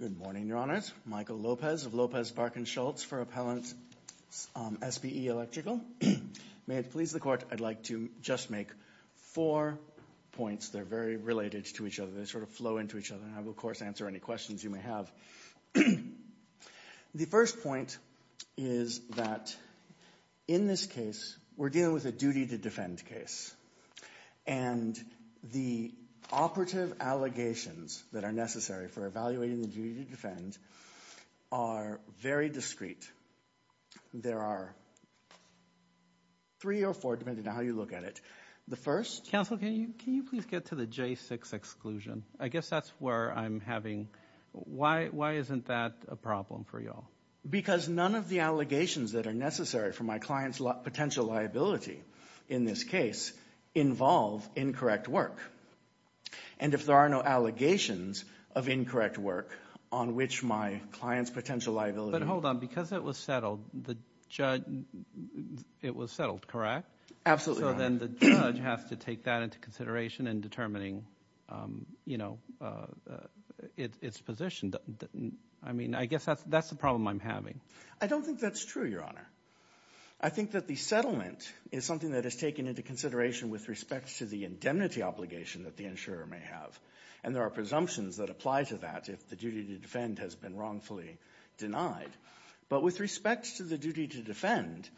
Good morning, Your Honors. Michael Lopez of Lopez Barkin Schultz for Appellant SBE Electrical. May it please the Court, I'd like to just make four points. They're very related to each other. They sort of flow into each other and I will, of course, answer any questions you may have. So, the first point is that in this case we're dealing with a duty to defend case. And the operative allegations that are necessary for evaluating the duty to defend are very discreet. There are three or four, depending on how you look at it. The first- Can you please get to the J6 exclusion? I guess that's where I'm having- why isn't that a problem for you all? Because none of the allegations that are necessary for my client's potential liability in this case involve incorrect work. And if there are no allegations of incorrect work on which my client's potential liability- But hold on. Because it was settled, the judge- it was settled, correct? Absolutely right. So then the judge has to take that into consideration in determining, you know, its position. I mean, I guess that's the problem I'm having. I don't think that's true, Your Honor. I think that the settlement is something that is taken into consideration with respect to the indemnity obligation that the insurer may have. And there are presumptions that apply to that if the duty to defend has been wrongfully denied. But with respect to the duty to defend,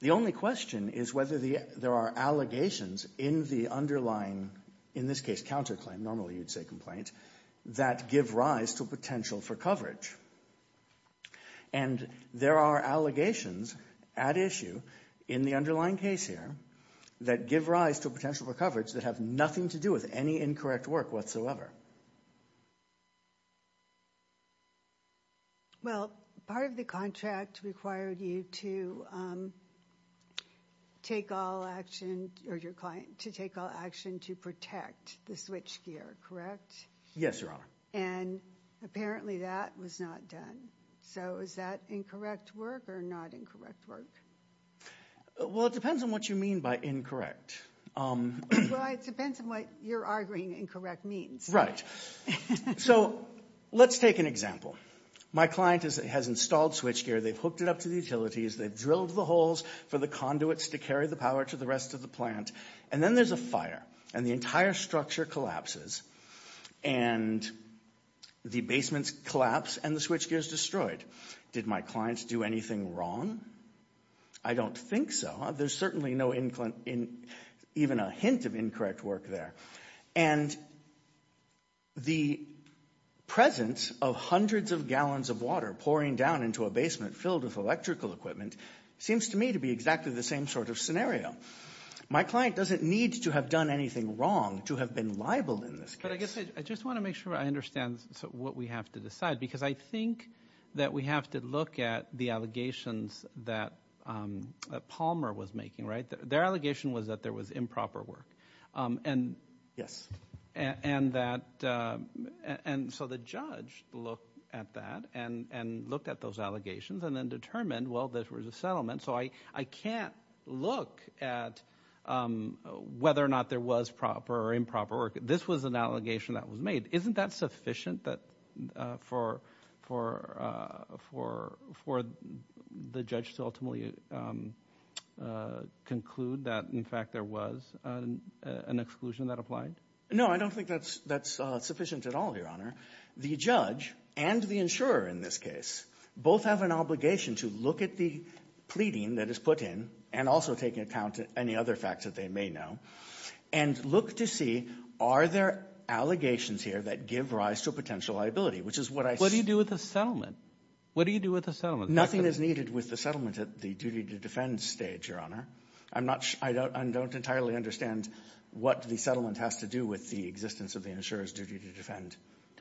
the only question is whether there are allegations in the underlying- in this case, counterclaim, normally you'd say complaint- that give rise to potential for coverage. And there are allegations at issue in the underlying case here that give rise to potential for coverage that have nothing to do with any incorrect work whatsoever. Well, part of the contract required you to take all action- or your client- to take all action to protect the switchgear, correct? Yes, Your Honor. And apparently that was not done. So is that incorrect work or not incorrect work? Well, it depends on what you mean by incorrect. Well, it depends on what you're arguing incorrect means. Right. So let's take an example. My client has installed switchgear. They've hooked it up to the utilities. They've drilled the holes for the conduits to carry the power to the rest of the plant. And then there's a fire. And the entire structure collapses. And the basements collapse and the switchgear is destroyed. Did my client do anything wrong? I don't think so. There's certainly no- even a hint of incorrect work there. And the presence of hundreds of gallons of water pouring down into a basement filled with electrical equipment seems to me to be exactly the same sort of scenario. My client doesn't need to have done anything wrong to have been liable in this case. But I guess I just want to make sure I understand what we have to decide. Because I think that we have to look at the allegations that Palmer was making, right? Their allegation was that there was improper work. Yes. And that- and so the judge looked at that and looked at those allegations and then determined, well, there was a settlement. So I can't look at whether or not there was proper or improper work. This was an allegation that was made. Isn't that sufficient for the judge to ultimately conclude that, in fact, there was an exclusion that applied? No, I don't think that's sufficient at all, Your Honor. The judge and the insurer in this case both have an obligation to look at the pleading that is put in and also take into account any other facts that they may know and look to see are there allegations here that give rise to a potential liability, which is what I- What do you do with the settlement? What do you do with the settlement? Nothing is needed with the settlement at the duty to defend stage, Your Honor. I'm not- I don't entirely understand what the settlement has to do with the existence of the insurer's duty to defend.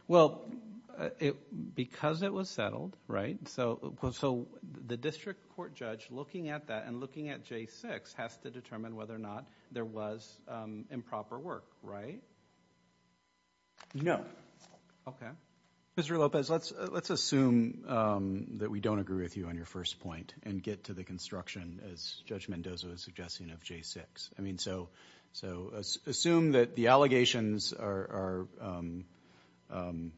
Well, because it was settled, right? So the district court judge looking at that and looking at J6 has to determine whether or not there was improper work, right? No. Okay. Mr. Lopez, let's assume that we don't agree with you on your first point and get to the construction, as Judge Mendoza was suggesting, of J6. I mean, so assume that the allegations are of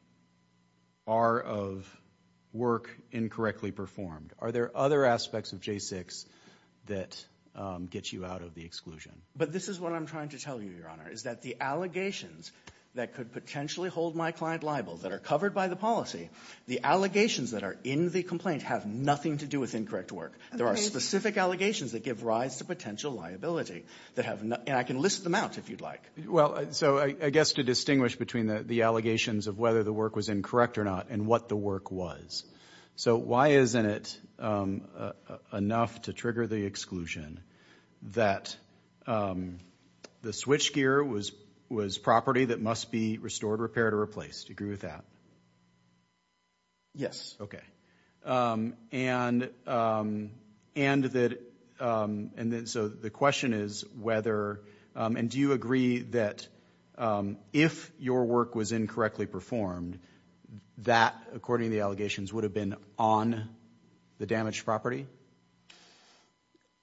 work incorrectly performed. Are there other aspects of J6 that get you out of the exclusion? But this is what I'm trying to tell you, Your Honor, is that the allegations that could potentially hold my client liable, that are covered by the policy, the allegations that are in the complaint have nothing to do with incorrect work. There are specific allegations that give rise to potential liability that have- and I can list them out if you'd like. Well, so I guess to distinguish between the allegations of whether the work was incorrect or not and what the work was. So why isn't it enough to trigger the exclusion that the switchgear was property that must be restored, repaired, or replaced? Do you agree with that? Yes. Okay. And that- and then so the question is whether- and do you agree that if your work was incorrectly performed, that, according to the allegations, would have been on the damaged property?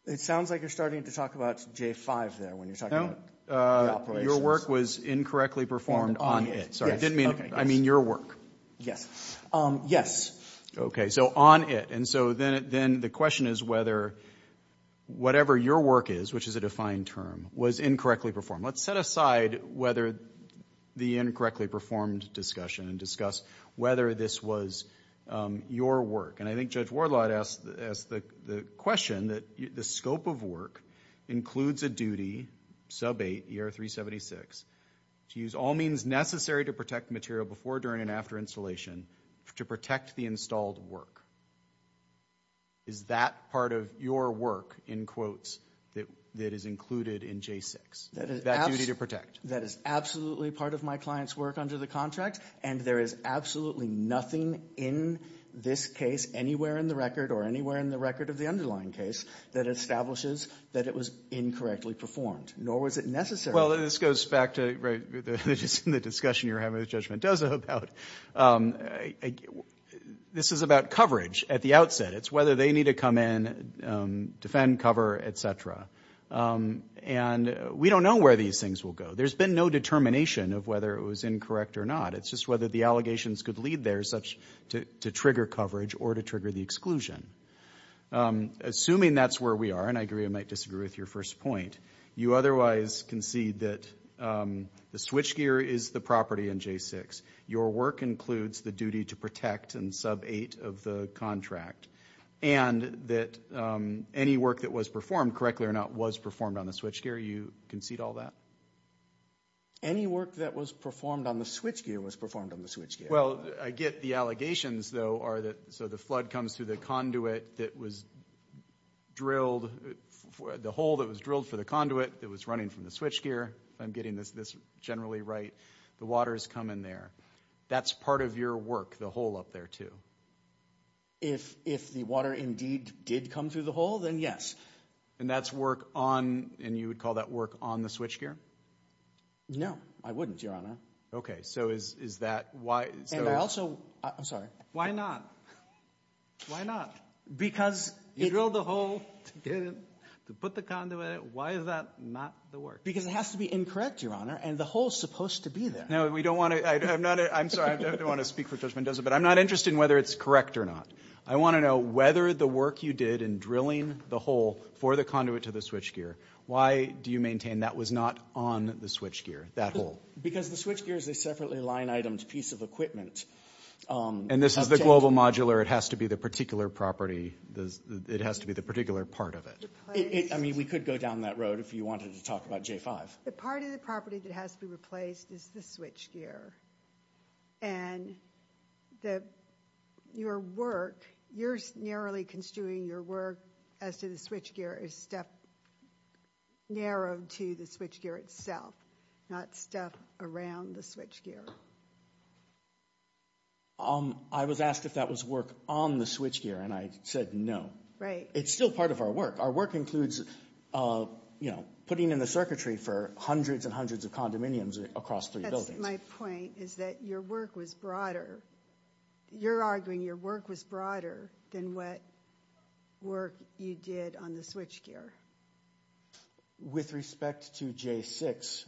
It sounds like you're starting to talk about J5 there when you're talking about the operations. No, your work was incorrectly performed on it. Sorry, I didn't mean- I mean your work. Yes. Yes. Okay, so on it. And so then the question is whether whatever your work is, which is a defined term, was incorrectly performed. Let's set aside whether the incorrectly performed discussion and discuss whether this was your work. And I think Judge Wardlaw asked the question that the scope of work includes a duty, sub 8, ER 376, to use all means necessary to protect material before, during, and after installation to protect the installed work. Is that part of your work, in quotes, that is included in J6, that duty to protect? That is absolutely part of my client's work under the contract. And there is absolutely nothing in this case, anywhere in the record or anywhere in the record of the underlying case, that establishes that it was incorrectly performed, nor was it necessary. Well, this goes back to the discussion you were having with Judge Mendoza about- this is about coverage at the outset. It's whether they need to come in, defend, cover, etc. And we don't know where these things will go. There's been no determination of whether it was incorrect or not. It's just whether the allegations could lead there such to trigger coverage or to trigger the exclusion. Assuming that's where we are, and I agree or might disagree with your first point, you otherwise concede that the switchgear is the property in J6. Your work includes the duty to protect and sub-8 of the contract. And that any work that was performed, correctly or not, was performed on the switchgear. You concede all that? Any work that was performed on the switchgear was performed on the switchgear. Well, I get the allegations, though, are that- the conduit that was running from the switchgear, if I'm getting this generally right, the water's come in there. That's part of your work, the hole up there, too. If the water indeed did come through the hole, then yes. And that's work on- and you would call that work on the switchgear? No, I wouldn't, Your Honor. Okay, so is that why- And I also- I'm sorry. Why not? Why not? Because you drilled the hole to get it- to put the conduit in it, why is that not the work? Because it has to be incorrect, Your Honor, and the hole's supposed to be there. No, we don't want to- I'm not- I'm sorry, I don't want to speak for Judge Mendoza, but I'm not interested in whether it's correct or not. I want to know whether the work you did in drilling the hole for the conduit to the switchgear, why do you maintain that was not on the switchgear, that hole? Because the switchgear is a separately line-itemed piece of equipment. And this is the global modular, it has to be the particular property- it has to be the particular part of it. I mean, we could go down that road if you wanted to talk about J5. The part of the property that has to be replaced is the switchgear. And your work- you're narrowly construing your work as to the switchgear as stuff narrowed to the switchgear itself, not stuff around the switchgear. Your work- I was asked if that was work on the switchgear, and I said no. It's still part of our work. Our work includes, you know, putting in the circuitry for hundreds and hundreds of condominiums across three buildings. That's my point, is that your work was broader. You're arguing your work was broader than what work you did on the switchgear. With respect to J6.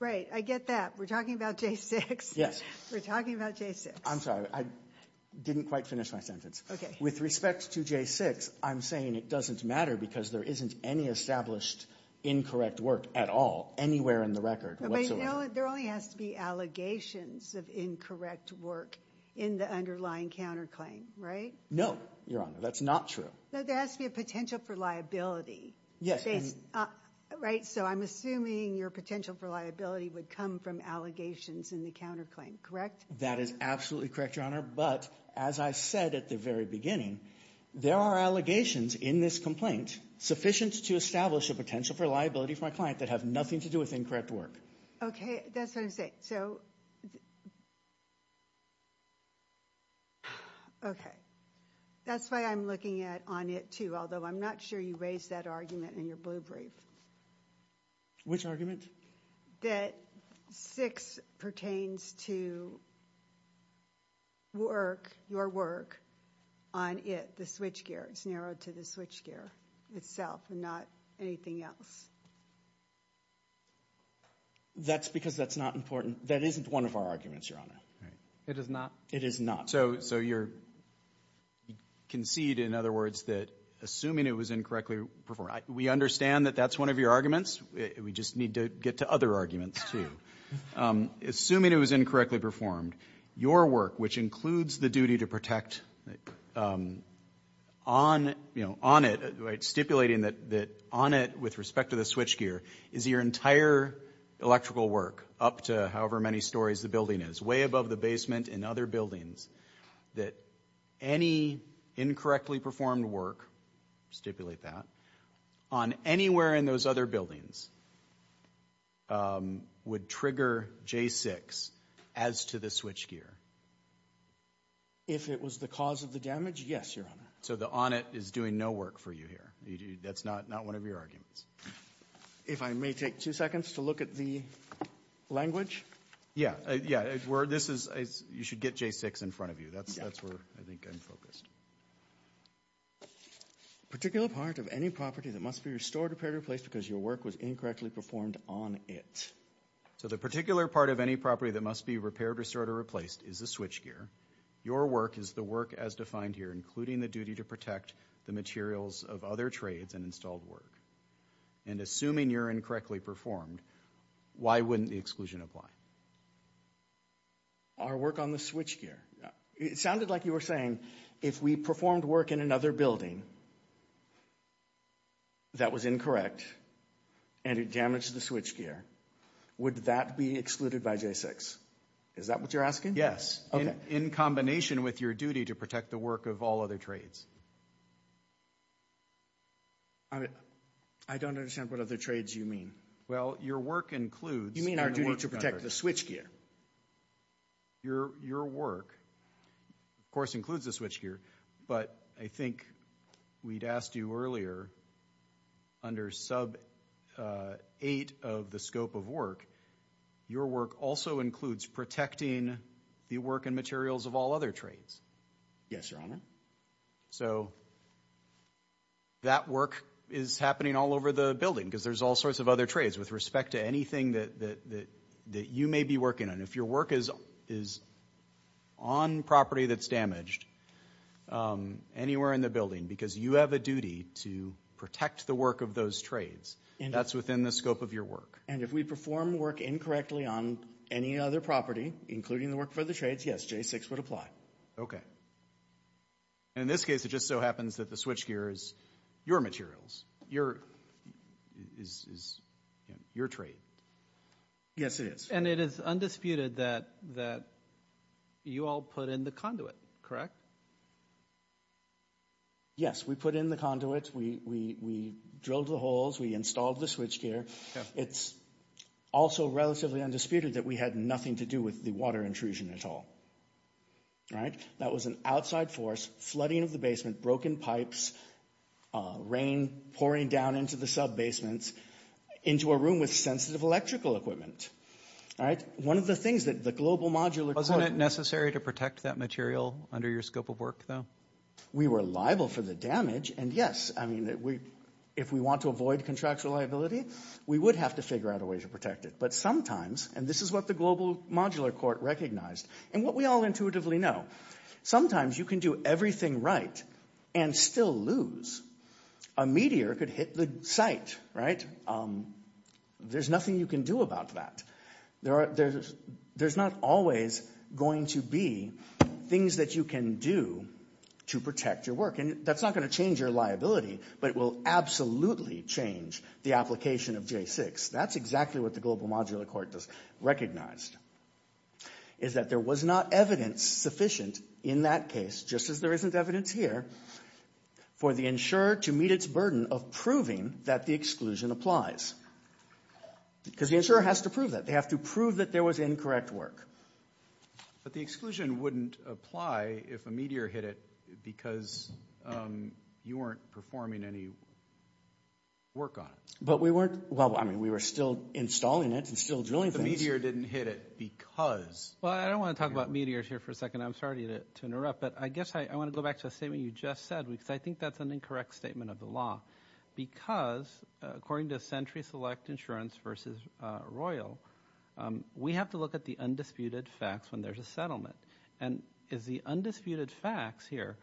Right, I get that. We're talking about J6. Yes. We're talking about J6. I'm sorry, I didn't quite finish my sentence. Okay. With respect to J6, I'm saying it doesn't matter because there isn't any established incorrect work at all, anywhere in the record. But you know, there only has to be allegations of incorrect work in the underlying counterclaim, right? No, Your Honor, that's not true. No, there has to be a potential for liability. Yes. Right, so I'm assuming your potential for liability would come from allegations in the counterclaim, correct? That is absolutely correct, Your Honor. But as I said at the very beginning, there are allegations in this complaint sufficient to establish a potential for liability for my client that have nothing to do with incorrect work. Okay, that's what I'm saying. Okay, so, okay. That's why I'm looking at on it too, although I'm not sure you raised that argument in your blue brief. Which argument? That 6 pertains to work, your work, on it, the switchgear. It's narrowed to the switchgear itself and not anything else. That's because that's not important. That isn't one of our arguments, Your Honor. It is not? It is not. So you concede, in other words, that assuming it was incorrectly performed. We understand that that's one of your arguments. We just need to get to other arguments too. Assuming it was incorrectly performed, your work, which includes the duty to protect on it, right, stipulating that on it with respect to the switchgear, is your entire electrical work up to however many stories the building is, way above the basement and other buildings, that any incorrectly performed work, stipulate that, on anywhere in those other buildings would trigger J6 as to the switchgear? If it was the cause of the damage, yes, Your Honor. So the on it is doing no work for you here. That's not one of your arguments. If I may take two seconds to look at the language. Yeah, yeah, this is, you should get J6 in front of you. That's where I think I'm focused. Particular part of any property that must be restored, repaired, or replaced because your work was incorrectly performed on it. So the particular part of any property that must be repaired, restored, or replaced is the switchgear. Your work is the work as defined here, including the duty to protect the materials of other trades and installed work. And assuming you're incorrectly performed, why wouldn't the exclusion apply? Our work on the switchgear. It sounded like you were saying, if we performed work in another building, that was incorrect, and it damaged the switchgear, would that be excluded by J6? Is that what you're asking? Yes, in combination with your duty to protect the work of all other trades. I mean, I don't understand what other trades you mean. Well, your work includes... You mean our duty to protect the switchgear. Your work, of course, includes the switchgear, but I think we'd asked you earlier, under sub 8 of the scope of work, your work also includes protecting the work and materials of all other trades. Yes, Your Honor. So that work is happening all over the building, because there's all sorts of other trades, with respect to anything that you may be working on. If your work is on property that's damaged, anywhere in the building, because you have a duty to protect the work of those trades, that's within the scope of your work. And if we perform work incorrectly on any other property, including the work for the trades, yes, J6 would apply. Okay. And in this case, it just so happens that the switchgear is your materials, is your trade. Yes, it is. And it is undisputed that you all put in the conduit, correct? Yes, we put in the conduit. We drilled the holes. We installed the switchgear. It's also relatively undisputed that we had nothing to do with the water intrusion at all, right? That was an outside force, flooding of the basement, broken pipes, rain pouring down into the sub-basements, into a room with sensitive electrical equipment. All right? One of the things that the Global Modular Court— Wasn't it necessary to protect that material under your scope of work, though? We were liable for the damage, and yes, I mean, if we want to avoid contractual liability, we would have to figure out a way to protect it. But sometimes, and this is what the Global Modular Court recognized, and what we all intuitively know, sometimes you can do everything right and still lose. A meteor could hit the site, right? There's nothing you can do about that. There's not always going to be things that you can do to protect your work. And that's not going to change your liability, but it will absolutely change the application of J6. That's exactly what the Global Modular Court recognized, is that there was not evidence sufficient in that case, just as there isn't evidence here, for the insurer to meet its burden of proving that the exclusion applies. Because the insurer has to prove that. They have to prove that there was incorrect work. But the exclusion wouldn't apply if a meteor hit it because you weren't performing any work on it. But we weren't, well, I mean, we were still installing it and still drilling things. The meteor didn't hit it because. Well, I don't want to talk about meteors here for a second. I'm sorry to interrupt. But I guess I want to go back to a statement you just said, because I think that's an incorrect statement of the law. Because, according to Century Select Insurance versus Royal, we have to look at the undisputed facts when there's a settlement. And as the undisputed facts here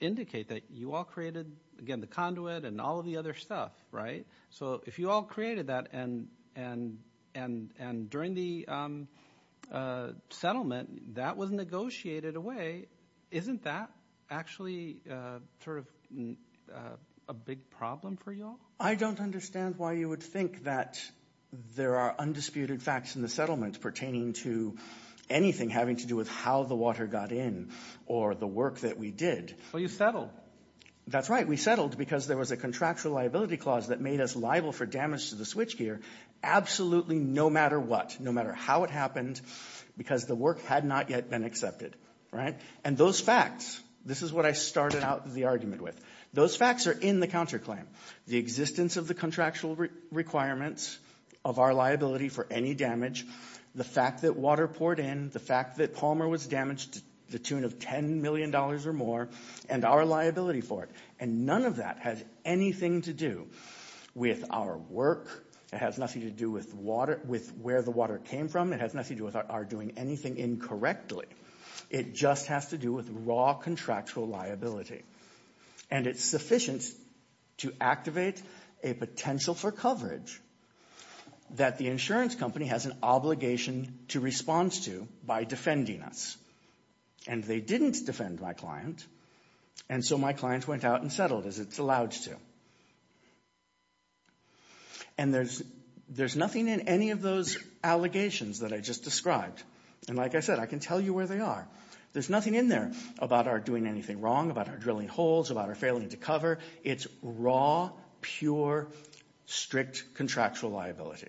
indicate that you all created, again, the conduit and all of the other stuff, right? So if you all created that and during the settlement that was negotiated away, isn't that actually sort of a big problem for you all? I don't understand why you would think that there are undisputed facts in the settlement pertaining to anything having to do with how the water got in or the work that we did. Well, you settled. That's right. We settled because there was a contractual liability clause that made us liable for damage to the switchgear absolutely no matter what, no matter how it happened, because the work had not yet been accepted, right? And those facts, this is what I started out the argument with. Those facts are in the counterclaim. The existence of the contractual requirements of our liability for any damage, the fact that water poured in, the fact that Palmer was damaged to the tune of $10 million or more, and our liability for it. And none of that has anything to do with our work. It has nothing to do with where the water came from. It has nothing to do with our doing anything incorrectly. It just has to do with raw contractual liability. And it's sufficient to activate a potential for coverage that the insurance company has an obligation to respond to by defending us. And they didn't defend my client. And so my client went out and settled as it's allowed to. And there's nothing in any of those allegations that I just described. And like I said, I can tell you where they are. There's nothing in there about our doing anything wrong, about our drilling holes, about our failing to cover. It's raw, pure, strict contractual liability.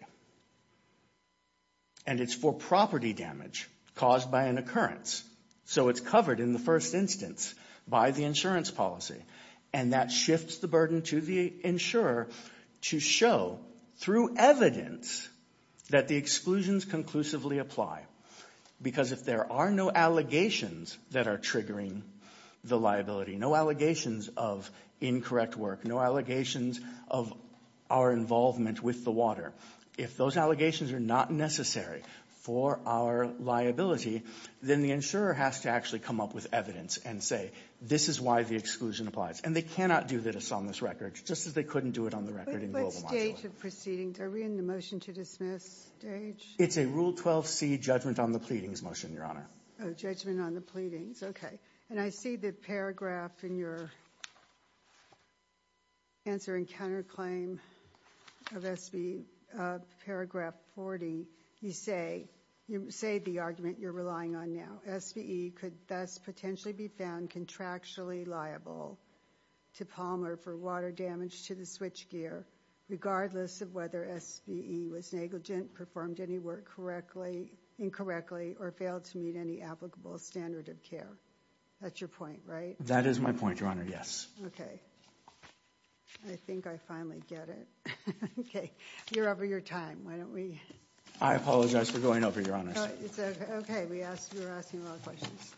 And it's for property damage caused by an occurrence. So it's covered in the first instance by the insurance policy. And that shifts the burden to the insurer to show through evidence that the exclusions conclusively apply. Because if there are no allegations that are triggering the liability, no allegations of incorrect work, no allegations of our involvement with the water, if those allegations are not necessary for our liability, then the insurer has to actually come up with evidence and say, this is why the exclusion applies. And they cannot do this on this record, just as they couldn't do it on the record in the global module. But what stage of proceedings? Are we in the motion to dismiss stage? It's a Rule 12c judgment on the pleadings motion, Your Honor. Oh, judgment on the pleadings. Okay. And I see the paragraph in your answer and counterclaim of SB paragraph 40. You say the argument you're relying on now. SBE could thus potentially be found contractually liable to Palmer for water damage to the switchgear, regardless of whether SBE was negligent, performed any work incorrectly, or failed to meet any applicable standard of care. That's your point, right? That is my point, Your Honor. Yes. Okay. I think I finally get it. Okay. You're over your time. I apologize for going over, Your Honor. It's okay. We're asking a lot of questions.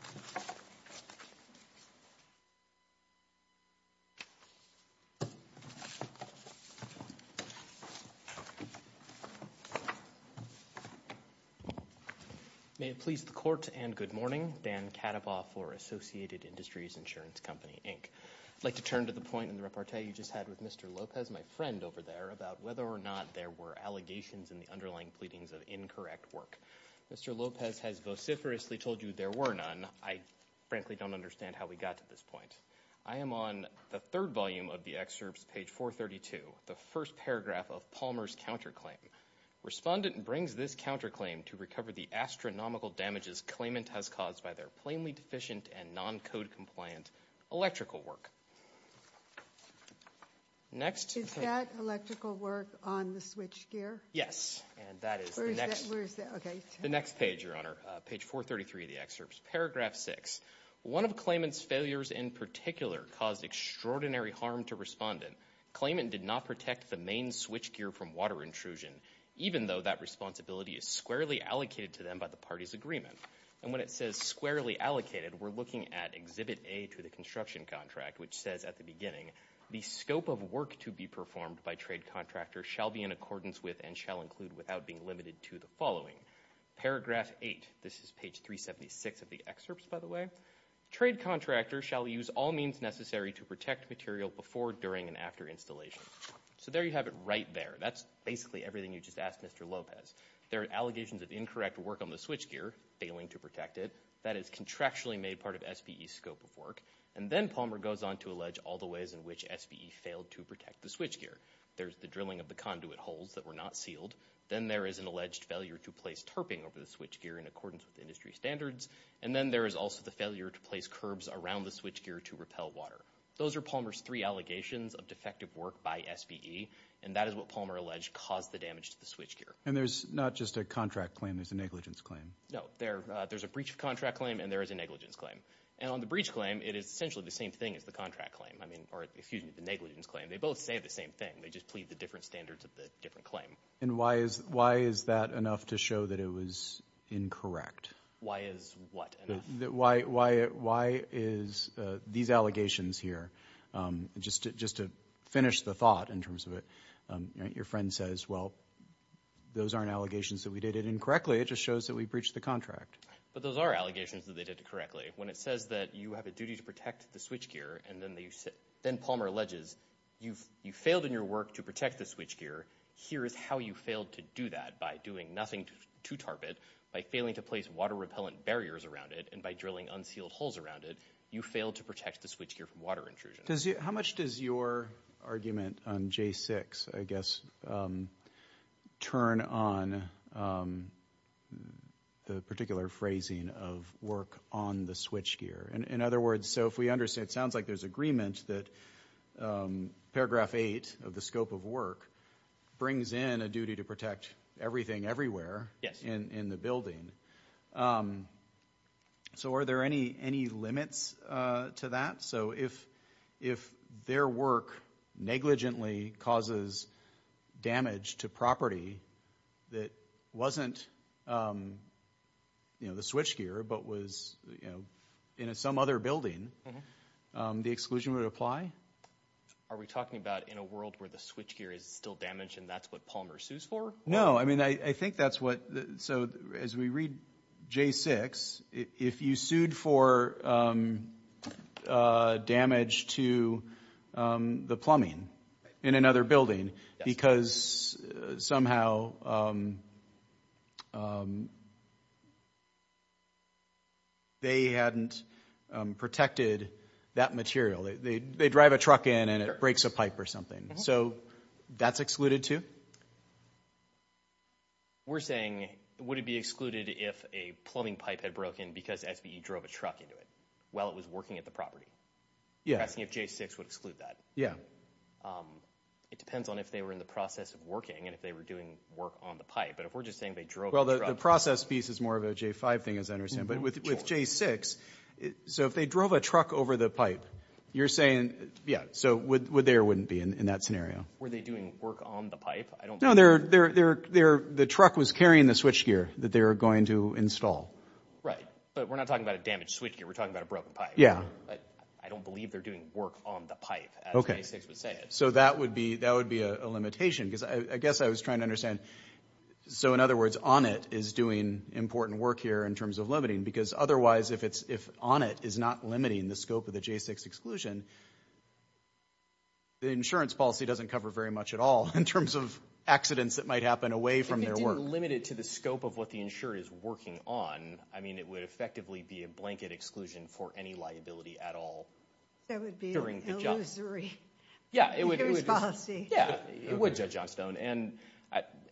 May it please the court and good morning. Dan Kadabaw for Associated Industries Insurance Company, Inc. I'd like to turn to the point in the report you just had with Mr. Lopez, my friend over there, about whether or not there were allegations in the underlying pleadings of incorrect work. Mr. Lopez has vociferously told you there were none. I frankly don't understand how we got to this point. I am on the third volume of the excerpts, page 432, the first paragraph of Palmer's counterclaim. Respondent brings this counterclaim to recover the astronomical damages claimant has caused by their plainly deficient and non-code compliant electrical work. Is that electrical work on the switch gear? Yes. And that is the next page, Your Honor, page 433 of the excerpts. Paragraph 6. One of claimant's failures in particular caused extraordinary harm to respondent. Claimant did not protect the main switch gear from water intrusion, even though that responsibility is squarely allocated to them by the party's agreement. And when it says squarely allocated, we're looking at exhibit A to the construction contract, which says at the beginning, the scope of work to be performed by trade contractor shall be in accordance with and shall include without being limited to the following. Paragraph 8. This is page 376 of the excerpts, by the way. Trade contractor shall use all means necessary to protect material before, during, and after installation. So there you have it right there. That's basically everything you just asked Mr. Lopez. There are allegations of incorrect work on the switch gear, failing to protect it. That is contractually made part of SBE scope of work. And then Palmer goes on to allege all the ways in which SBE failed to protect the switch gear. There's the drilling of the conduit holes that were not sealed. Then there is an alleged failure to place tarping over the switch gear in accordance with industry standards. And then there is also the failure to place curbs around the switch gear to repel water. Those are Palmer's three allegations of defective work by SBE. And that is what Palmer alleged caused the damage to the switch gear. And there's not just a contract claim. There's a negligence claim. No, there's a breach of contract claim and there is a negligence claim. And on the breach claim, it is essentially the same thing as the contract claim. I mean, or excuse me, the negligence claim. They both say the same thing. They just plead the different standards of the different claim. And why is that enough to show that it was incorrect? Why is what enough? Why is these allegations here? Just to finish the thought in terms of it, your friend says, well, those aren't allegations that we did it incorrectly. It just shows that we breached the contract. But those are allegations that they did it correctly. When it says that you have a duty to protect the switch gear, and then Palmer alleges you failed in your work to protect the switch gear. Here is how you failed to do that by doing nothing to tarp it, by failing to place water repellent barriers around it, and by drilling unsealed holes around it. You failed to protect the switch gear from water intrusion. How much does your argument on J6, I guess, turn on the particular phrasing of work on the switch gear? And in other words, so if we understand, it sounds like there's agreement that paragraph eight of the scope of work brings in a duty to protect everything everywhere in the building. So are there any limits to that? So if their work negligently causes damage to property that wasn't, you know, the switch gear, but was, you know, in some other building, the exclusion would apply? Are we talking about in a world where the switch gear is still damaged and that's what Palmer sues for? No, I mean, I think that's what, so as we read J6, if you sued for damage to the plumbing in another building because somehow they hadn't protected that material, they drive a truck in and it breaks a pipe or something. So that's excluded too? We're saying, would it be excluded if a plumbing pipe had broken because SBE drove a truck into it while it was working at the property? Yeah. Asking if J6 would exclude that. Yeah. It depends on if they were in the process of working and if they were doing work on the pipe. But if we're just saying they drove a truck. Well, the process piece is more of a J5 thing as I understand, but with J6, so if they drove a truck over the pipe, you're saying, yeah, so there wouldn't be in that scenario. Were they doing work on the pipe? No, the truck was carrying the switchgear that they were going to install. Right, but we're not talking about a damaged switchgear. We're talking about a broken pipe. Yeah. I don't believe they're doing work on the pipe as J6 would say. So that would be a limitation because I guess I was trying to understand. So in other words, ONIT is doing important work here in terms of limiting because otherwise if ONIT is not limiting the scope of the J6 exclusion, the insurance policy doesn't cover very much at all in terms of accidents that might happen away from their work. If it didn't limit it to the scope of what the insurer is working on, I mean, it would effectively be a blanket exclusion for any liability at all. That would be illusory insurance policy. Yeah, it would, Judge Johnstone. And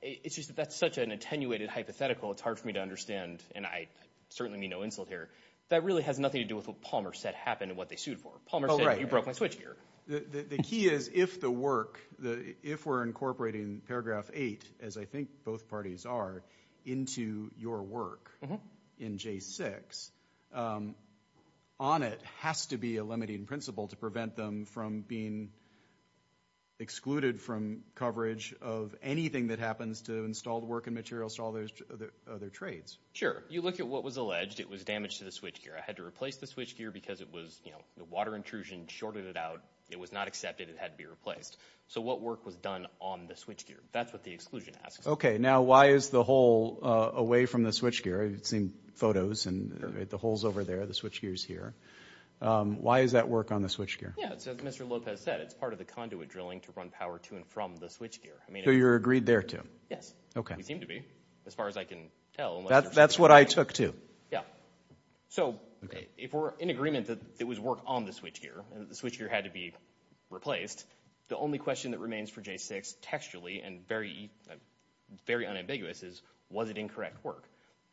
it's just that's such an attenuated hypothetical. It's hard for me to understand and I certainly mean no insult here. That really has nothing to do with what Palmer said happened and what they sued for. Palmer said, you broke my switchgear. The key is if the work, if we're incorporating paragraph 8, as I think both parties are, into your work in J6, ONIT has to be a limiting principle to prevent them from being excluded from coverage of anything that happens to installed work and materials, to all those other trades. Sure, you look at what was alleged. It was damage to the switchgear. I had to replace the switchgear because it was, you know, the water intrusion shorted it out. It was not accepted. It had to be replaced. So what work was done on the switchgear? That's what the exclusion asks. Okay, now why is the hole away from the switchgear? I've seen photos and the hole's over there. The switchgear's here. Why is that work on the switchgear? Yeah, as Mr. Lopez said, it's part of the conduit drilling to run power to and from the switchgear. So you're agreed there to? Yes. Okay. We seem to be, as far as I can tell. That's what I took too. Yeah. So if we're in agreement that it was work on the switchgear and the switchgear had to be replaced, the only question that remains for J6 textually and very unambiguous is, was it incorrect work?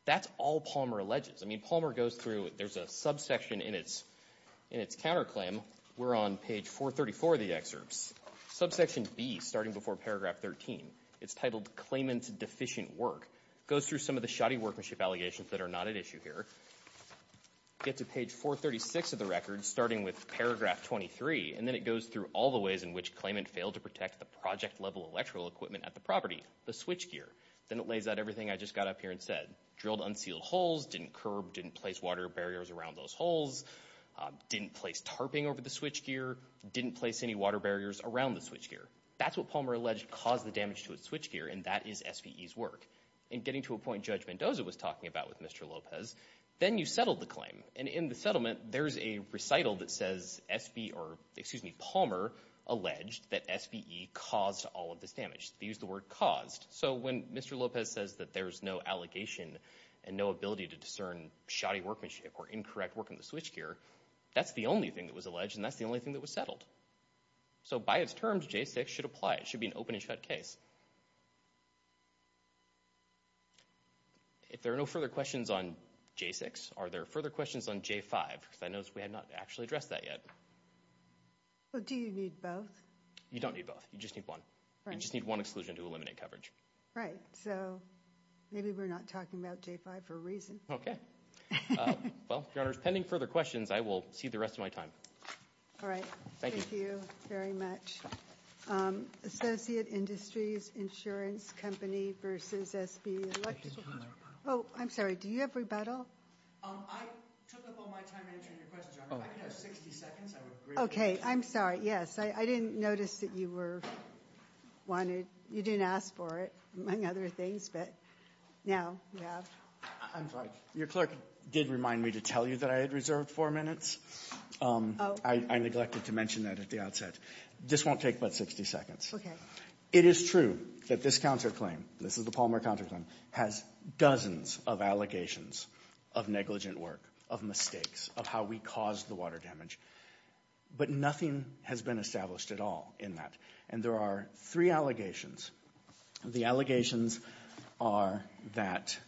That's all Palmer alleges. I mean, Palmer goes through. There's a subsection in its counterclaim. We're on page 434 of the excerpts. Subsection B, starting before paragraph 13, it's titled claimant's deficient work, goes through some of the shoddy workmanship allegations that are not at issue here, gets to page 436 of the record, starting with paragraph 23. And then it goes through all the ways in which claimant failed to protect the project-level electrical equipment at the property, the switchgear. Then it lays out everything I just got up here and said. Drilled unsealed holes, didn't curb, didn't place water barriers around those holes, didn't place tarping over the switchgear, didn't place any water barriers around the switchgear. That's what Palmer alleged caused the damage to his switchgear, and that is SVE's work. And getting to a point Judge Mendoza was talking about with Mr. Lopez, then you settle the claim. And in the settlement, there's a recital that says SVE, or excuse me, Palmer alleged that SVE caused all of this damage. They used the word caused. So when Mr. Lopez says that there's no allegation and no ability to discern shoddy workmanship or incorrect work in the switchgear, that's the only thing that was alleged, and that's the only thing that was settled. So by its terms, J6 should apply. It should be an open and shut case. If there are no further questions on J6, are there further questions on J5? Because I noticed we have not actually addressed that yet. Well, do you need both? You don't need both. You just need one. You just need one exclusion to eliminate coverage. Right. So maybe we're not talking about J5 for a reason. OK. Well, Your Honors, pending further questions, I will cede the rest of my time. All right. Thank you. Thank you very much. Associate Industries, Insurance Company versus SB Electrical. Oh, I'm sorry. Do you have rebuttal? I took up all my time answering your questions, Your Honor. If I could have 60 seconds, I would agree with that. OK. I'm sorry. Yes. I didn't notice that you were wanted. You didn't ask for it, among other things. But now you have. I'm sorry. Your clerk did remind me to tell you that I had reserved four minutes. I neglected to mention that at the outset. This won't take but 60 seconds. OK. It is true that this counterclaim, this is the Palmer counterclaim, has dozens of allegations of negligent work, of mistakes, of how we caused the water damage. But nothing has been established at all in that. And there are three allegations. The allegations are that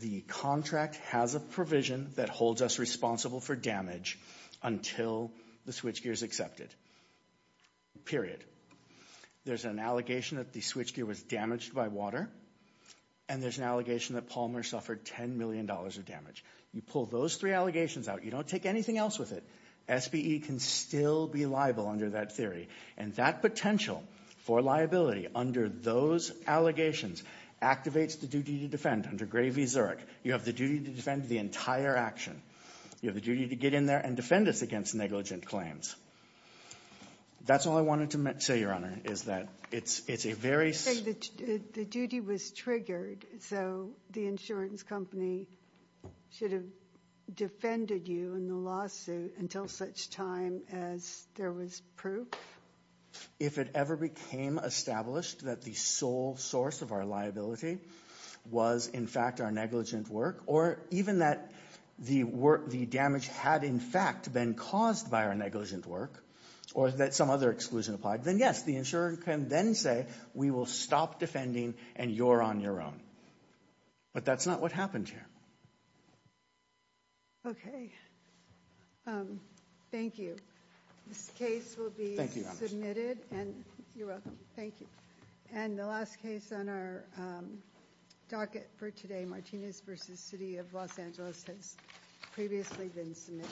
the contract has a provision that holds us responsible for damage until the switchgear is accepted, period. There's an allegation that the switchgear was damaged by water. And there's an allegation that Palmer suffered $10 million of damage. You pull those three allegations out, you don't take anything else with it. SBE can still be liable under that theory. And that potential for liability under those allegations activates the duty to defend under Gray v. Zurich. You have the duty to defend the entire action. You have the duty to get in there and defend us against negligent claims. That's all I wanted to say, Your Honor. Is that it's a very... The duty was triggered, so the insurance company should have defended you in the lawsuit until such time as there was proof? If it ever became established that the sole source of our liability was, in fact, our negligent work, or even that the damage had, in fact, been caused by our negligent work, or that some other exclusion applied, then yes, the insurer can then say, we will stop defending and you're on your own. But that's not what happened here. Okay. Thank you. This case will be submitted. And you're welcome. Thank you. And the last case on our docket for today, Martinez v. City of Los Angeles, has previously been submitted.